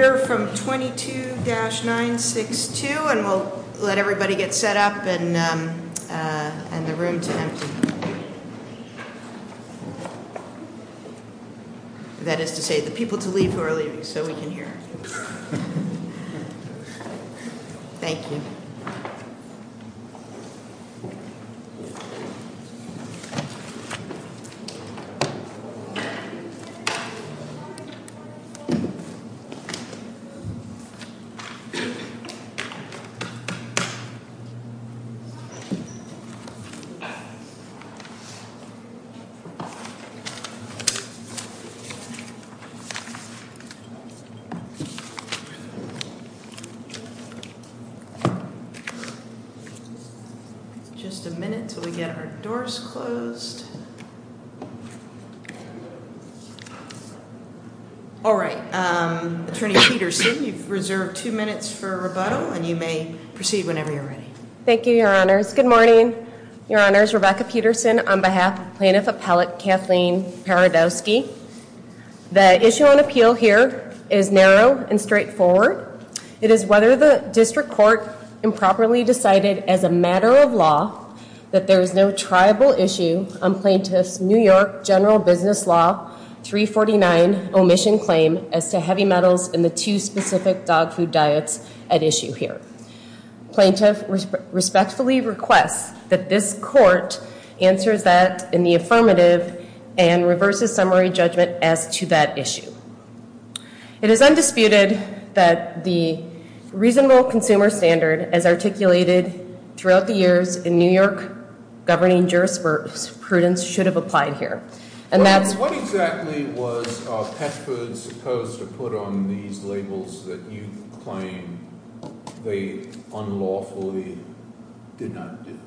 We'll hear from 22-962 and we'll let everybody get set up and the room to empty. That is to say, the people to leave who are leaving, so we can hear. Thank you. Just a minute till we get our doors closed. All right, Attorney Peterson, you've reserved two minutes for rebuttal and you may proceed whenever you're ready. Thank you, Your Honors. Good morning. Your Honors, Rebecca Peterson on behalf of Plaintiff Appellate Kathleen Paradoski. The issue on appeal here is narrow and straightforward. It is whether the district court improperly decided as a matter of law that there is no triable issue on Plaintiff's New York General Business Law 349 omission claim as to heavy metals in the two specific dog food diets at issue here. Plaintiff respectfully requests that this court answers that in the affirmative and reverses summary judgment as to that issue. It is undisputed that the reasonable consumer standard as articulated throughout the years in New York governing jurisprudence should have applied here. What exactly was Petford supposed to put on these labels that you claim they unlawfully did not do?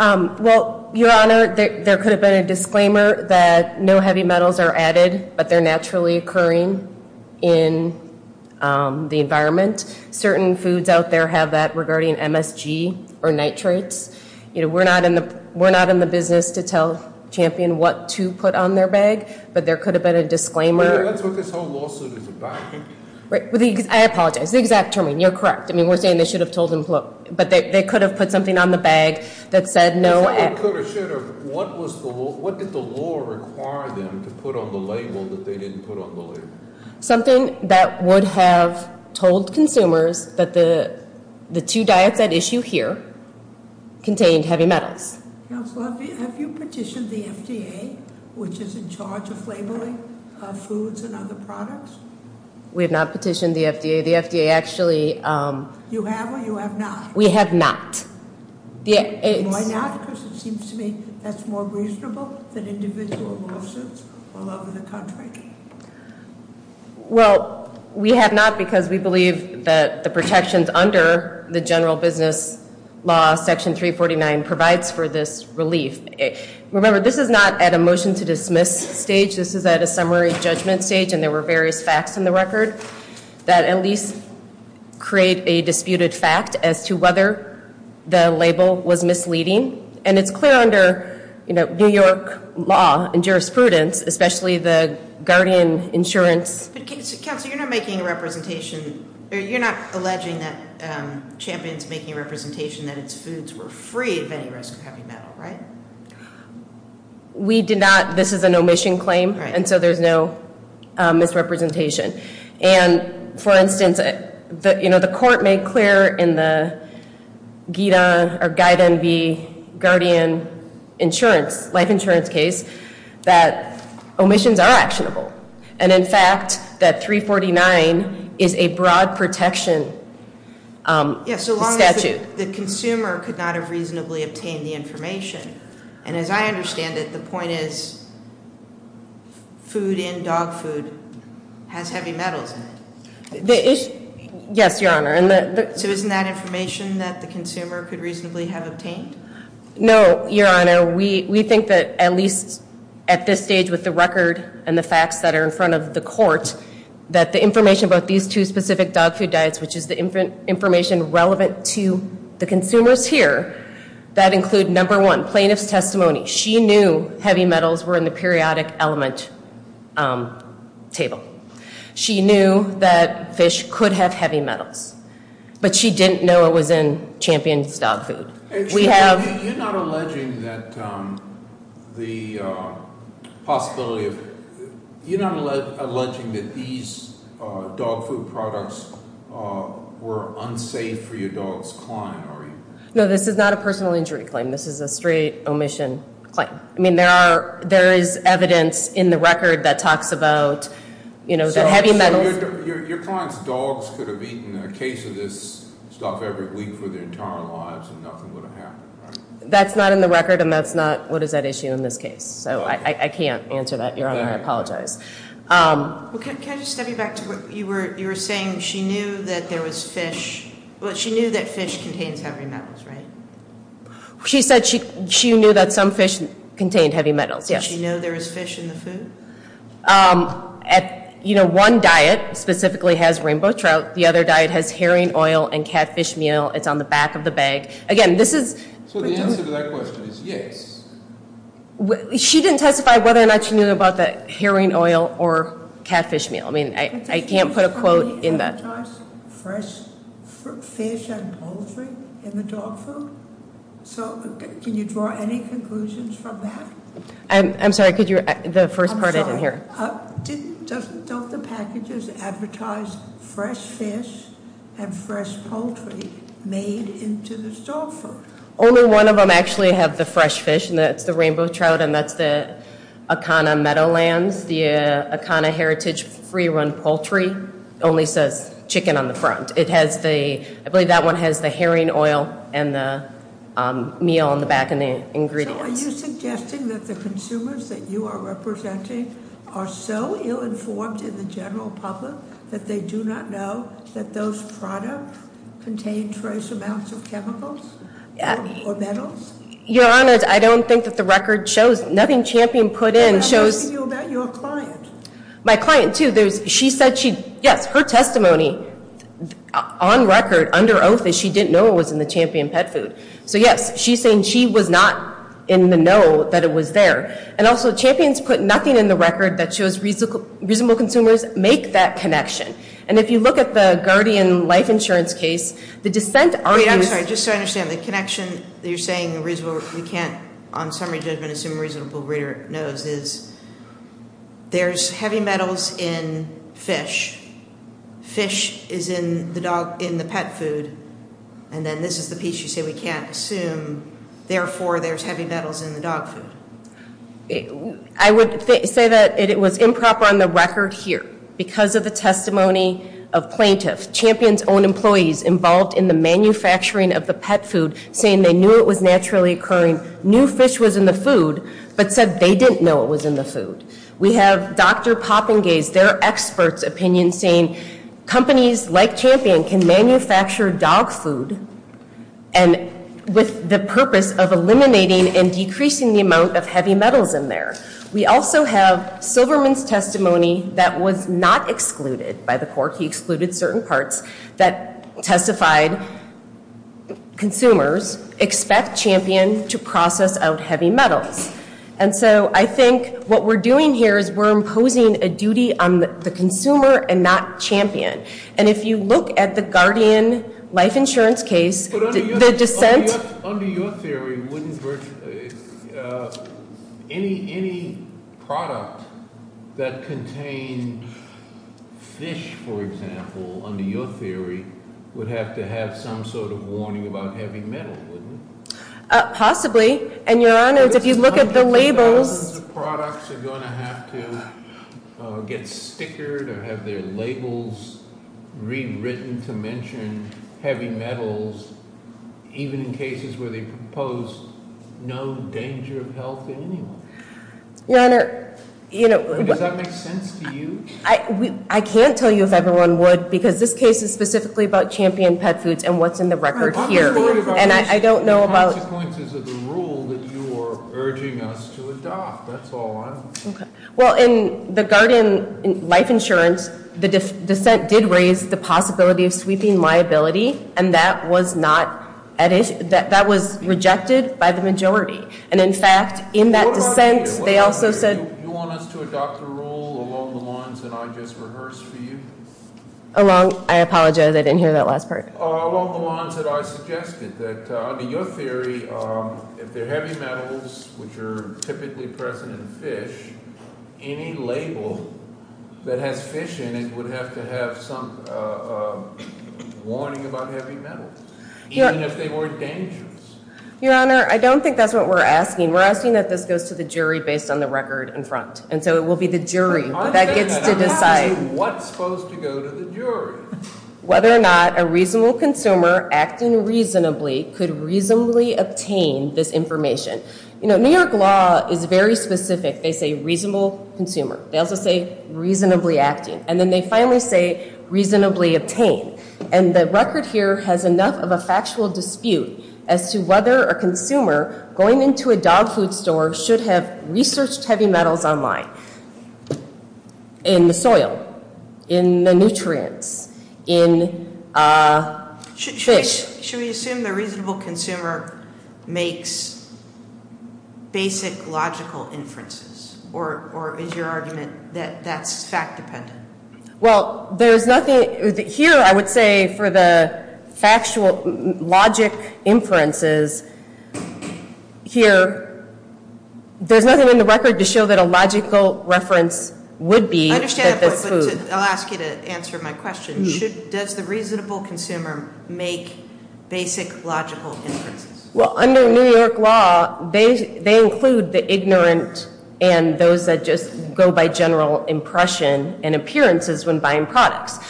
Well, Your Honor, there could have been a disclaimer that no heavy metals are added, but they're naturally occurring in the environment. Certain foods out there have that regarding MSG or nitrates. We're not in the business to tell Champion what to put on their bag, but there could have been a disclaimer. That's what this whole lawsuit is about. I apologize. The exact terming, you're correct. I mean, we're saying they should have told him, but they could have put something on the bag that said no. What did the law require them to put on the label that they didn't put on the label? Something that would have told consumers that the two diets at issue here contained heavy metals. Counsel, have you petitioned the FDA, which is in charge of labeling foods and other products? We have not petitioned the FDA. The FDA actually- You have or you have not? We have not. Why not? Because it seems to me that's more reasonable than individual lawsuits all over the country. Well, we have not because we believe that the protections under the general business law, Section 349, provides for this relief. Remember, this is not at a motion-to-dismiss stage. This is at a summary judgment stage, and there were various facts in the record that at least create a disputed fact as to whether the label was misleading. And it's clear under New York law and jurisprudence, especially the Guardian Insurance- Counsel, you're not alleging that Champion's making a representation that its foods were free of any risk of heavy metal, right? We did not. This is an omission claim, and so there's no misrepresentation. And, for instance, the court made clear in the Guida or Guide NV Guardian Insurance, life insurance case, that omissions are actionable. And, in fact, that 349 is a broad protection statute. The consumer could not have reasonably obtained the information. And, as I understand it, the point is food in dog food has heavy metals in it. Yes, Your Honor. So isn't that information that the consumer could reasonably have obtained? No, Your Honor. No, we think that, at least at this stage with the record and the facts that are in front of the court, that the information about these two specific dog food diets, which is the information relevant to the consumers here, that include, number one, plaintiff's testimony. She knew heavy metals were in the periodic element table. She knew that fish could have heavy metals, but she didn't know it was in Champion's dog food. You're not alleging that these dog food products were unsafe for your dog's client, are you? No, this is not a personal injury claim. This is a straight omission claim. I mean, there is evidence in the record that talks about the heavy metals- Your client's dogs could have eaten a case of this stuff every week for their entire lives and nothing would have happened, right? That's not in the record, and that's not what is at issue in this case. So I can't answer that, Your Honor. I apologize. Can I just step you back to what you were saying? She knew that there was fish. Well, she knew that fish contains heavy metals, right? She said she knew that some fish contained heavy metals, yes. Did she know there was fish in the food? You know, one diet specifically has rainbow trout. The other diet has herring oil and catfish meal. It's on the back of the bag. Again, this is- So the answer to that question is yes. She didn't testify whether or not she knew about the herring oil or catfish meal. I mean, I can't put a quote in that. Can you draw any conclusions from the advertised fresh fish and poultry in the dog food? So can you draw any conclusions from that? I'm sorry, could you, the first part I didn't hear. I'm sorry. Don't the packages advertise fresh fish and fresh poultry made into the dog food? Only one of them actually have the fresh fish, and that's the rainbow trout, and that's the Akana Meadowlands. The Akana Heritage free run poultry only says chicken on the front. It has the, I believe that one has the herring oil and the meal on the back and the ingredients. Are you suggesting that the consumers that you are representing are so ill informed in the general public that they do not know that those products contain trace amounts of chemicals or metals? Your Honor, I don't think that the record shows. Nothing Champion put in shows- I'm talking to you about your client. My client, too. She said she, yes, her testimony on record under oath is she didn't know it was in the Champion pet food. So yes, she's saying she was not in the know that it was there. And also, Champion's put nothing in the record that shows reasonable consumers make that connection. And if you look at the Guardian life insurance case, the dissent argues- Wait, I'm sorry. Just so I understand, the connection that you're saying we can't, on summary judgment, assume a reasonable breeder knows is there's heavy metals in fish. Fish is in the pet food. And then this is the piece you say we can't assume. Therefore, there's heavy metals in the dog food. I would say that it was improper on the record here. Because of the testimony of plaintiffs, Champion's own employees involved in the manufacturing of the pet food, saying they knew it was naturally occurring, knew fish was in the food, but said they didn't know it was in the food. We have Dr. Poppingaes, their expert's opinion, saying companies like Champion can manufacture dog food with the purpose of eliminating and decreasing the amount of heavy metals in there. We also have Silverman's testimony that was not excluded by the court. He excluded certain parts that testified consumers expect Champion to process out heavy metals. And so I think what we're doing here is we're imposing a duty on the consumer and not Champion. And if you look at the Guardian life insurance case, the dissent- But under your theory, any product that contained fish, for example, under your theory, would have to have some sort of warning about heavy metal, wouldn't it? Possibly. And your Honor, if you look at the labels- Hundreds of thousands of products are going to have to get stickered or have their labels rewritten to mention heavy metals, even in cases where they propose no danger of health in any way. Your Honor, you know- Does that make sense to you? I can't tell you if everyone would, because this case is specifically about Champion Pet Foods and what's in the record here. And I don't know about- The consequences of the rule that you are urging us to adopt, that's all I'm saying. Well, in the Guardian life insurance, the dissent did raise the possibility of sweeping liability, and that was rejected by the majority. And in fact, in that dissent, they also said- You want us to adopt a rule along the lines that I just rehearsed for you? Along- I apologize, I didn't hear that last part. Along the lines that I suggested, that under your theory, if they're heavy metals, which are typically present in fish, any label that has fish in it would have to have some warning about heavy metals, even if they weren't dangerous. Your Honor, I don't think that's what we're asking. We're asking that this goes to the jury based on the record in front. And so it will be the jury that gets to decide- Whether or not a reasonable consumer acting reasonably could reasonably obtain this information. You know, New York law is very specific. They say reasonable consumer. They also say reasonably acting. And then they finally say reasonably obtained. And the record here has enough of a factual dispute as to whether a consumer going into a dog food store should have researched heavy metals online in the soil, in the nutrients, in fish. Should we assume the reasonable consumer makes basic logical inferences? Or is your argument that that's fact dependent? Well, there's nothing here I would say for the factual logic inferences here. There's nothing in the record to show that a logical reference would be- I understand that, but I'll ask you to answer my question. Does the reasonable consumer make basic logical inferences? Well, under New York law, they include the ignorant and those that just go by general impression and appearances when buying products.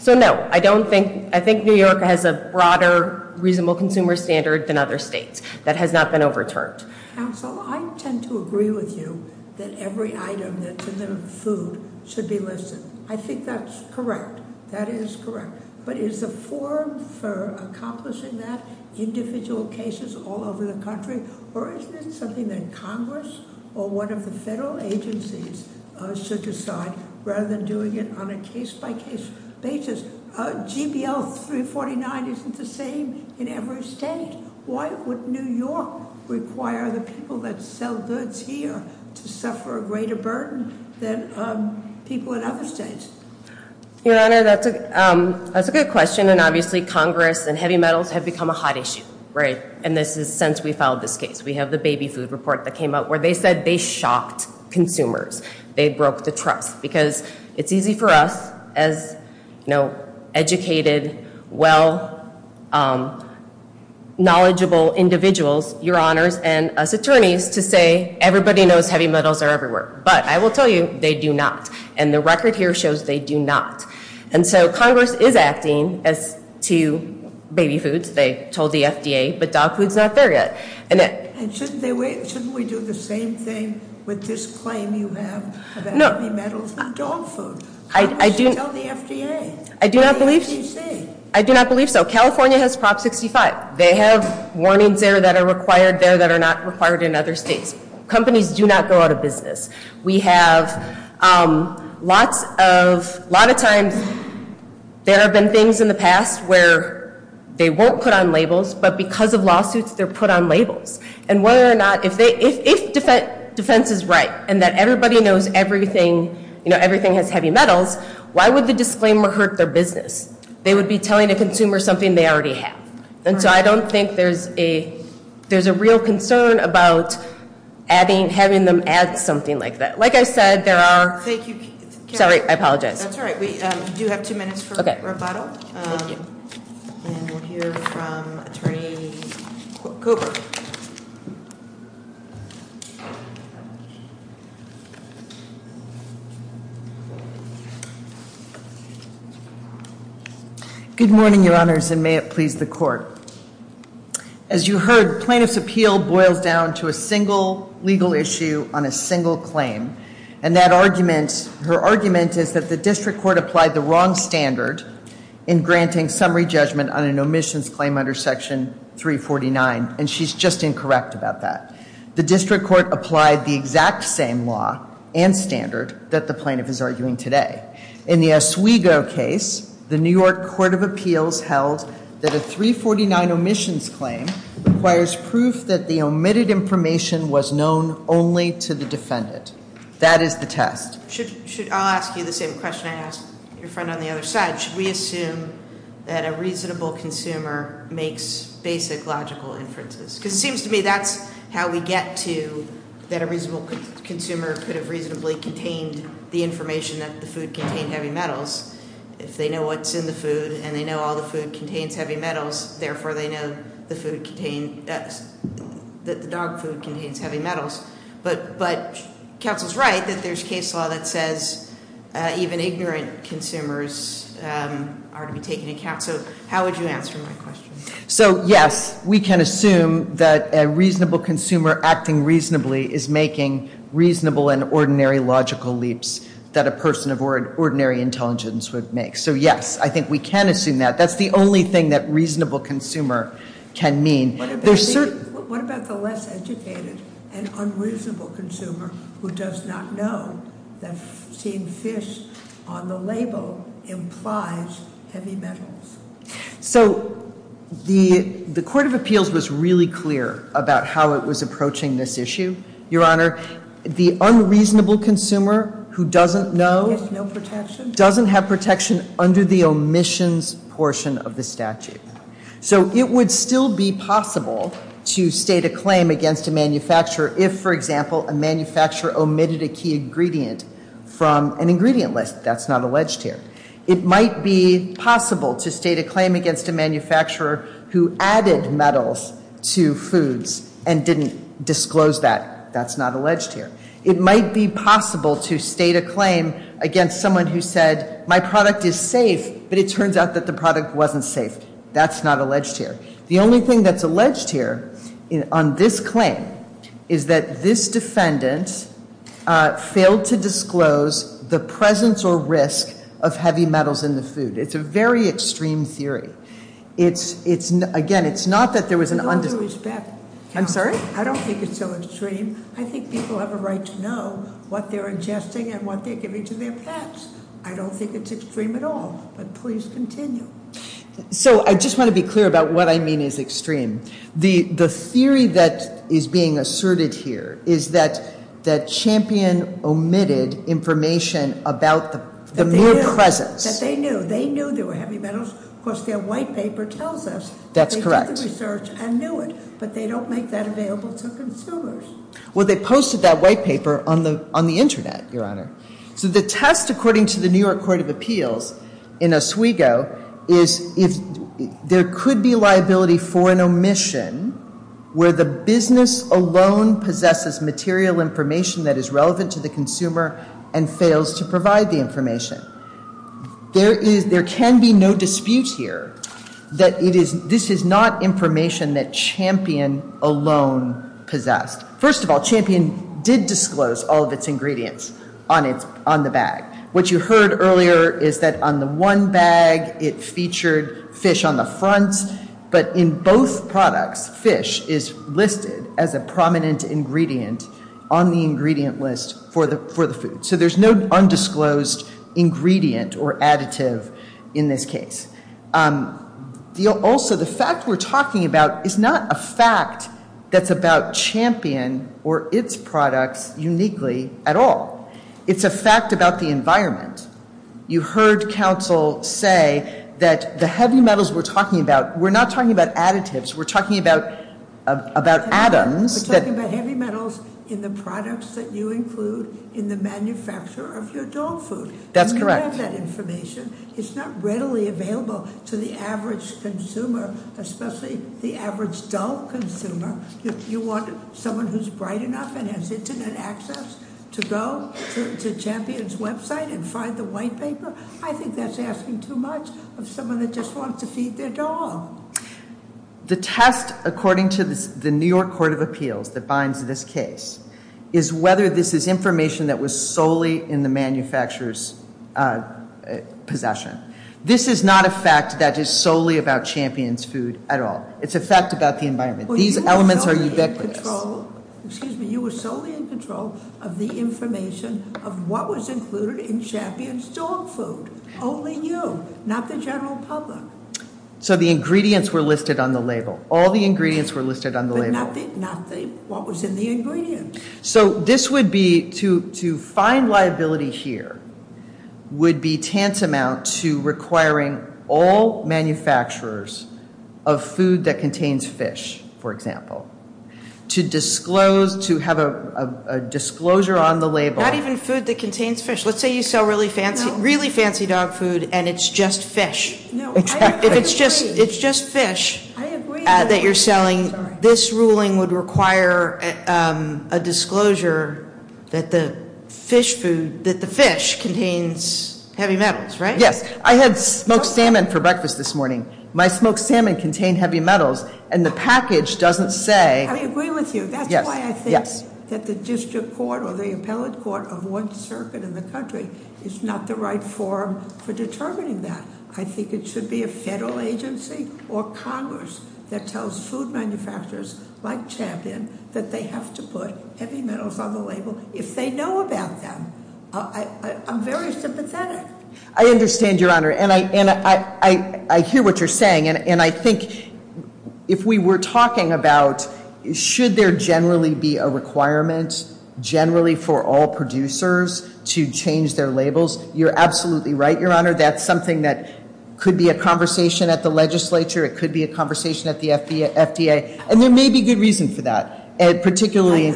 So no, I think New York has a broader reasonable consumer standard than other states. That has not been overturned. Counsel, I tend to agree with you that every item that's in the food should be listed. I think that's correct. That is correct. But is the forum for accomplishing that individual cases all over the country? Or is it something that Congress or one of the federal agencies should decide rather than doing it on a case by case basis? GBL 349 isn't the same in every state. Why would New York require the people that sell goods here to suffer a greater burden than people in other states? Your Honor, that's a good question. And obviously, Congress and heavy metals have become a hot issue. Right. And this is since we filed this case. We have the baby food report that came out where they said they shocked consumers. They broke the trust. Because it's easy for us as educated, well-knowledgeable individuals, Your Honors, and us attorneys, to say everybody knows heavy metals are everywhere. But I will tell you, they do not. And the record here shows they do not. And so Congress is acting as to baby foods. They told the FDA. But dog food's not there yet. And shouldn't we do the same thing with this claim you have about heavy metals and dog food? Congress should tell the FDA. I do not believe so. California has Prop 65. They have warnings there that are required there that are not required in other states. Companies do not go out of business. We have lots of times there have been things in the past where they won't put on labels, but because of lawsuits, they're put on labels. And whether or not if defense is right and that everybody knows everything has heavy metals, why would the disclaimer hurt their business? They would be telling a consumer something they already have. And so I don't think there's a real concern about having them add something like that. Like I said, there are- Thank you, Karen. Sorry, I apologize. That's all right. We do have two minutes for rebuttal. Thank you. And we'll hear from Attorney Cooper. Good morning, Your Honors, and may it please the Court. As you heard, plaintiff's appeal boils down to a single legal issue on a single claim. And that argument, her argument is that the district court applied the wrong standard in granting summary judgment on an omissions claim under Section 349. She's just incorrect about that. The district court applied the exact same law and standard that the plaintiff is arguing today. In the Oswego case, the New York Court of Appeals held that a 349 omissions claim requires proof that the omitted information was known only to the defendant. That is the test. I'll ask you the same question I asked your friend on the other side. How should we assume that a reasonable consumer makes basic logical inferences? Because it seems to me that's how we get to that a reasonable consumer could have reasonably contained the information that the food contained heavy metals. If they know what's in the food and they know all the food contains heavy metals, therefore they know that the dog food contains heavy metals. But counsel's right that there's case law that says even ignorant consumers are to be taken into account. So how would you answer my question? So yes, we can assume that a reasonable consumer acting reasonably is making reasonable and ordinary logical leaps that a person of ordinary intelligence would make. So yes, I think we can assume that. That's the only thing that reasonable consumer can mean. What about the less educated and unreasonable consumer who does not know that seeing fish on the label implies heavy metals? So the Court of Appeals was really clear about how it was approaching this issue. Your Honor, the unreasonable consumer who doesn't know doesn't have protection under the omissions portion of the statute. So it would still be possible to state a claim against a manufacturer if, for example, a manufacturer omitted a key ingredient from an ingredient list. That's not alleged here. It might be possible to state a claim against a manufacturer who added metals to foods and didn't disclose that. That's not alleged here. It might be possible to state a claim against someone who said, my product is safe, but it turns out that the product wasn't safe. That's not alleged here. The only thing that's alleged here on this claim is that this defendant failed to disclose the presence or risk of heavy metals in the food. It's a very extreme theory. Again, it's not that there was an- With all due respect- I'm sorry? I don't think it's so extreme. I think people have a right to know what they're ingesting and what they're giving to their pets. I don't think it's extreme at all, but please continue. So I just want to be clear about what I mean is extreme. The theory that is being asserted here is that Champion omitted information about the mere presence. That they knew. They knew there were heavy metals. Of course, their white paper tells us that they did the research and knew it, but they don't make that available to consumers. Well, they posted that white paper on the Internet, Your Honor. So the test, according to the New York Court of Appeals in Oswego, is if there could be liability for an omission where the business alone possesses material information that is relevant to the consumer and fails to provide the information. There can be no dispute here that this is not information that Champion alone possessed. First of all, Champion did disclose all of its ingredients on the bag. What you heard earlier is that on the one bag it featured fish on the front, but in both products fish is listed as a prominent ingredient on the ingredient list for the food. So there's no undisclosed ingredient or additive in this case. Also, the fact we're talking about is not a fact that's about Champion or its products uniquely at all. It's a fact about the environment. You heard counsel say that the heavy metals we're talking about, we're not talking about additives. We're talking about atoms. We're talking about heavy metals in the products that you include in the manufacture of your dog food. That's correct. If you have that information, it's not readily available to the average consumer, especially the average dog consumer. If you want someone who's bright enough and has Internet access to go to Champion's website and find the white paper, I think that's asking too much of someone that just wants to feed their dog. The test according to the New York Court of Appeals that binds this case is whether this is information that was solely in the manufacturer's possession. This is not a fact that is solely about Champion's food at all. It's a fact about the environment. These elements are ubiquitous. Excuse me. You were solely in control of the information of what was included in Champion's dog food. Only you, not the general public. So the ingredients were listed on the label. All the ingredients were listed on the label. Not what was in the ingredients. So this would be to find liability here would be tantamount to requiring all manufacturers of food that contains fish, for example, to have a disclosure on the label. Not even food that contains fish. Let's say you sell really fancy dog food and it's just fish. Exactly. If it's just fish that you're selling, this ruling would require a disclosure that the fish contains heavy metals, right? Yes. I had smoked salmon for breakfast this morning. My smoked salmon contained heavy metals and the package doesn't say- I agree with you. That's why I think that the district court or the appellate court of one circuit in the country is not the right forum for determining that. I think it should be a federal agency or Congress that tells food manufacturers like Champion that they have to put heavy metals on the label if they know about them. I'm very sympathetic. I understand, Your Honor. And I hear what you're saying. And I think if we were talking about should there generally be a requirement generally for all producers to change their labels? You're absolutely right, Your Honor. That's something that could be a conversation at the legislature. It could be a conversation at the FDA. And there may be good reason for that, particularly-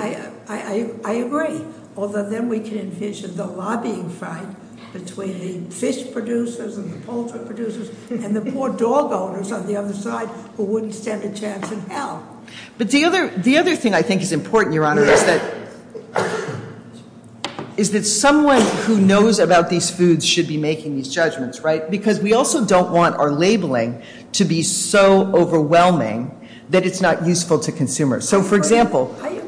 I agree. Although then we can envision the lobbying fight between the fish producers and the poultry producers and the poor dog owners on the other side who wouldn't stand a chance in hell. But the other thing I think is important, Your Honor, is that someone who knows about these foods should be making these judgments, right? Because we also don't want our labeling to be so overwhelming that it's not useful to consumers. So, for example- I agree.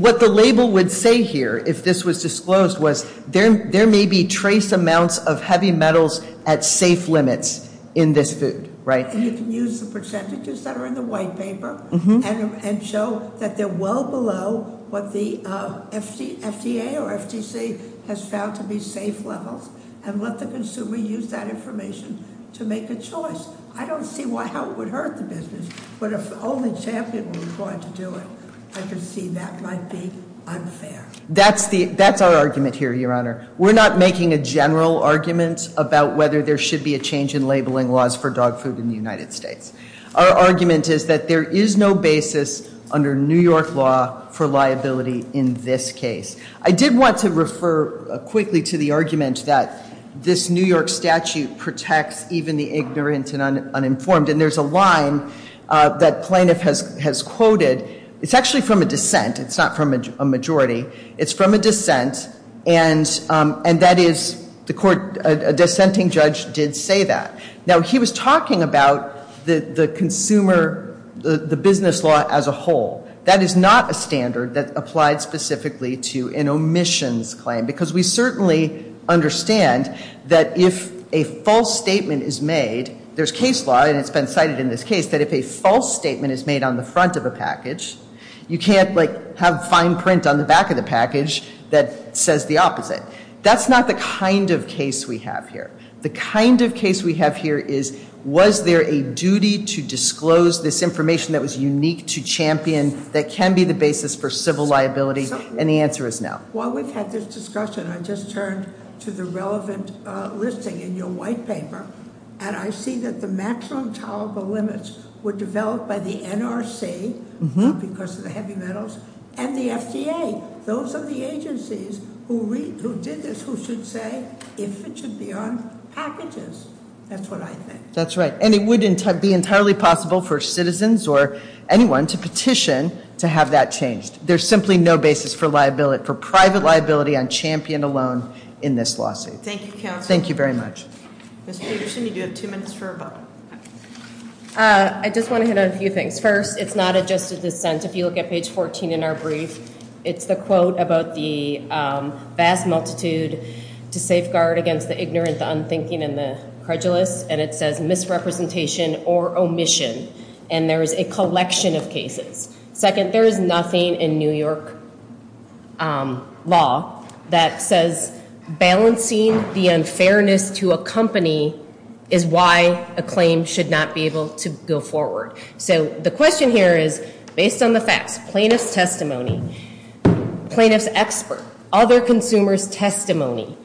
What the label would say here if this was disclosed was there may be trace amounts of heavy metals at safe limits in this food, right? And you can use the percentages that are in the white paper and show that they're well below what the FDA or FTC has found to be safe levels. And let the consumer use that information to make a choice. I don't see how it would hurt the business. But if the only champion was going to do it, I can see that might be unfair. That's our argument here, Your Honor. We're not making a general argument about whether there should be a change in labeling laws for dog food in the United States. Our argument is that there is no basis under New York law for liability in this case. I did want to refer quickly to the argument that this New York statute protects even the ignorant and uninformed. And there's a line that plaintiff has quoted. It's actually from a dissent. It's not from a majority. It's from a dissent. And that is the court- a dissenting judge did say that. Now, he was talking about the consumer- the business law as a whole. That is not a standard that applied specifically to an omissions claim. Because we certainly understand that if a false statement is made- there's case law and it's been cited in this case- that if a false statement is made on the front of a package, you can't have fine print on the back of the package that says the opposite. That's not the kind of case we have here. The kind of case we have here is, was there a duty to disclose this information that was unique to champion that can be the basis for civil liability? And the answer is no. While we've had this discussion, I just turned to the relevant listing in your white paper. And I see that the maximum tolerable limits were developed by the NRC, because of the heavy metals, and the FDA. Those are the agencies who did this, who should say if it should be on packages. That's what I think. That's right. And it wouldn't be entirely possible for citizens or anyone to petition to have that changed. There's simply no basis for private liability on champion alone in this lawsuit. Thank you, counsel. Thank you very much. Mr. Peterson, you do have two minutes for a vote. I just want to hit on a few things. First, it's not a just a dissent. If you look at page 14 in our brief, it's the quote about the vast multitude to safeguard against the ignorant, the unthinking, and the credulous. And it says misrepresentation or omission. And there is a collection of cases. Second, there is nothing in New York law that says balancing the unfairness to a company is why a claim should not be able to go forward. So the question here is, based on the facts, plaintiff's testimony, plaintiff's expert, other consumer's testimony,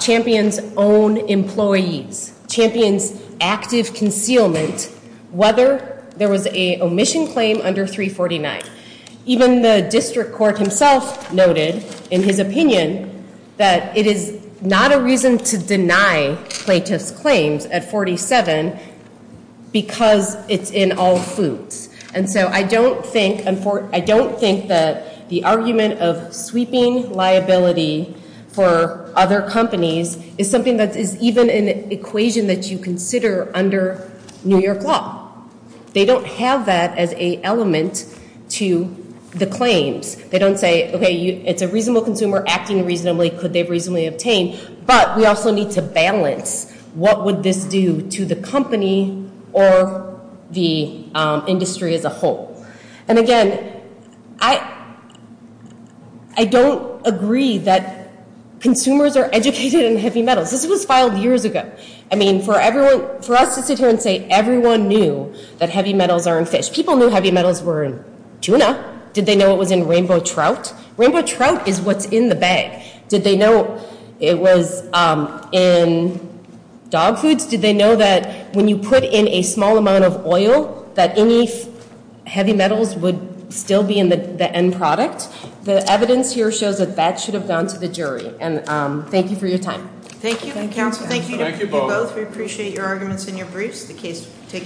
champion's own employees, champion's active concealment, whether there was a omission claim under 349. Even the district court himself noted in his opinion that it is not a reason to deny plaintiff's claims at 47 because it's in all foods. And so I don't think that the argument of sweeping liability for other companies is something that is even an equation that you consider under New York law. They don't have that as a element to the claims. They don't say, OK, it's a reasonable consumer acting reasonably. Could they reasonably obtain? But we also need to balance what would this do to the company or the industry as a whole. And again, I don't agree that consumers are educated in heavy metals. This was filed years ago. I mean, for us to sit here and say everyone knew that heavy metals are in fish. People knew heavy metals were in tuna. Did they know it was in rainbow trout? Rainbow trout is what's in the bag. Did they know it was in dog foods? Did they know that when you put in a small amount of oil that any heavy metals would still be in the end product? The evidence here shows that that should have gone to the jury. And thank you for your time. Thank you. Thank you both. We appreciate your arguments and your briefs. The case taken.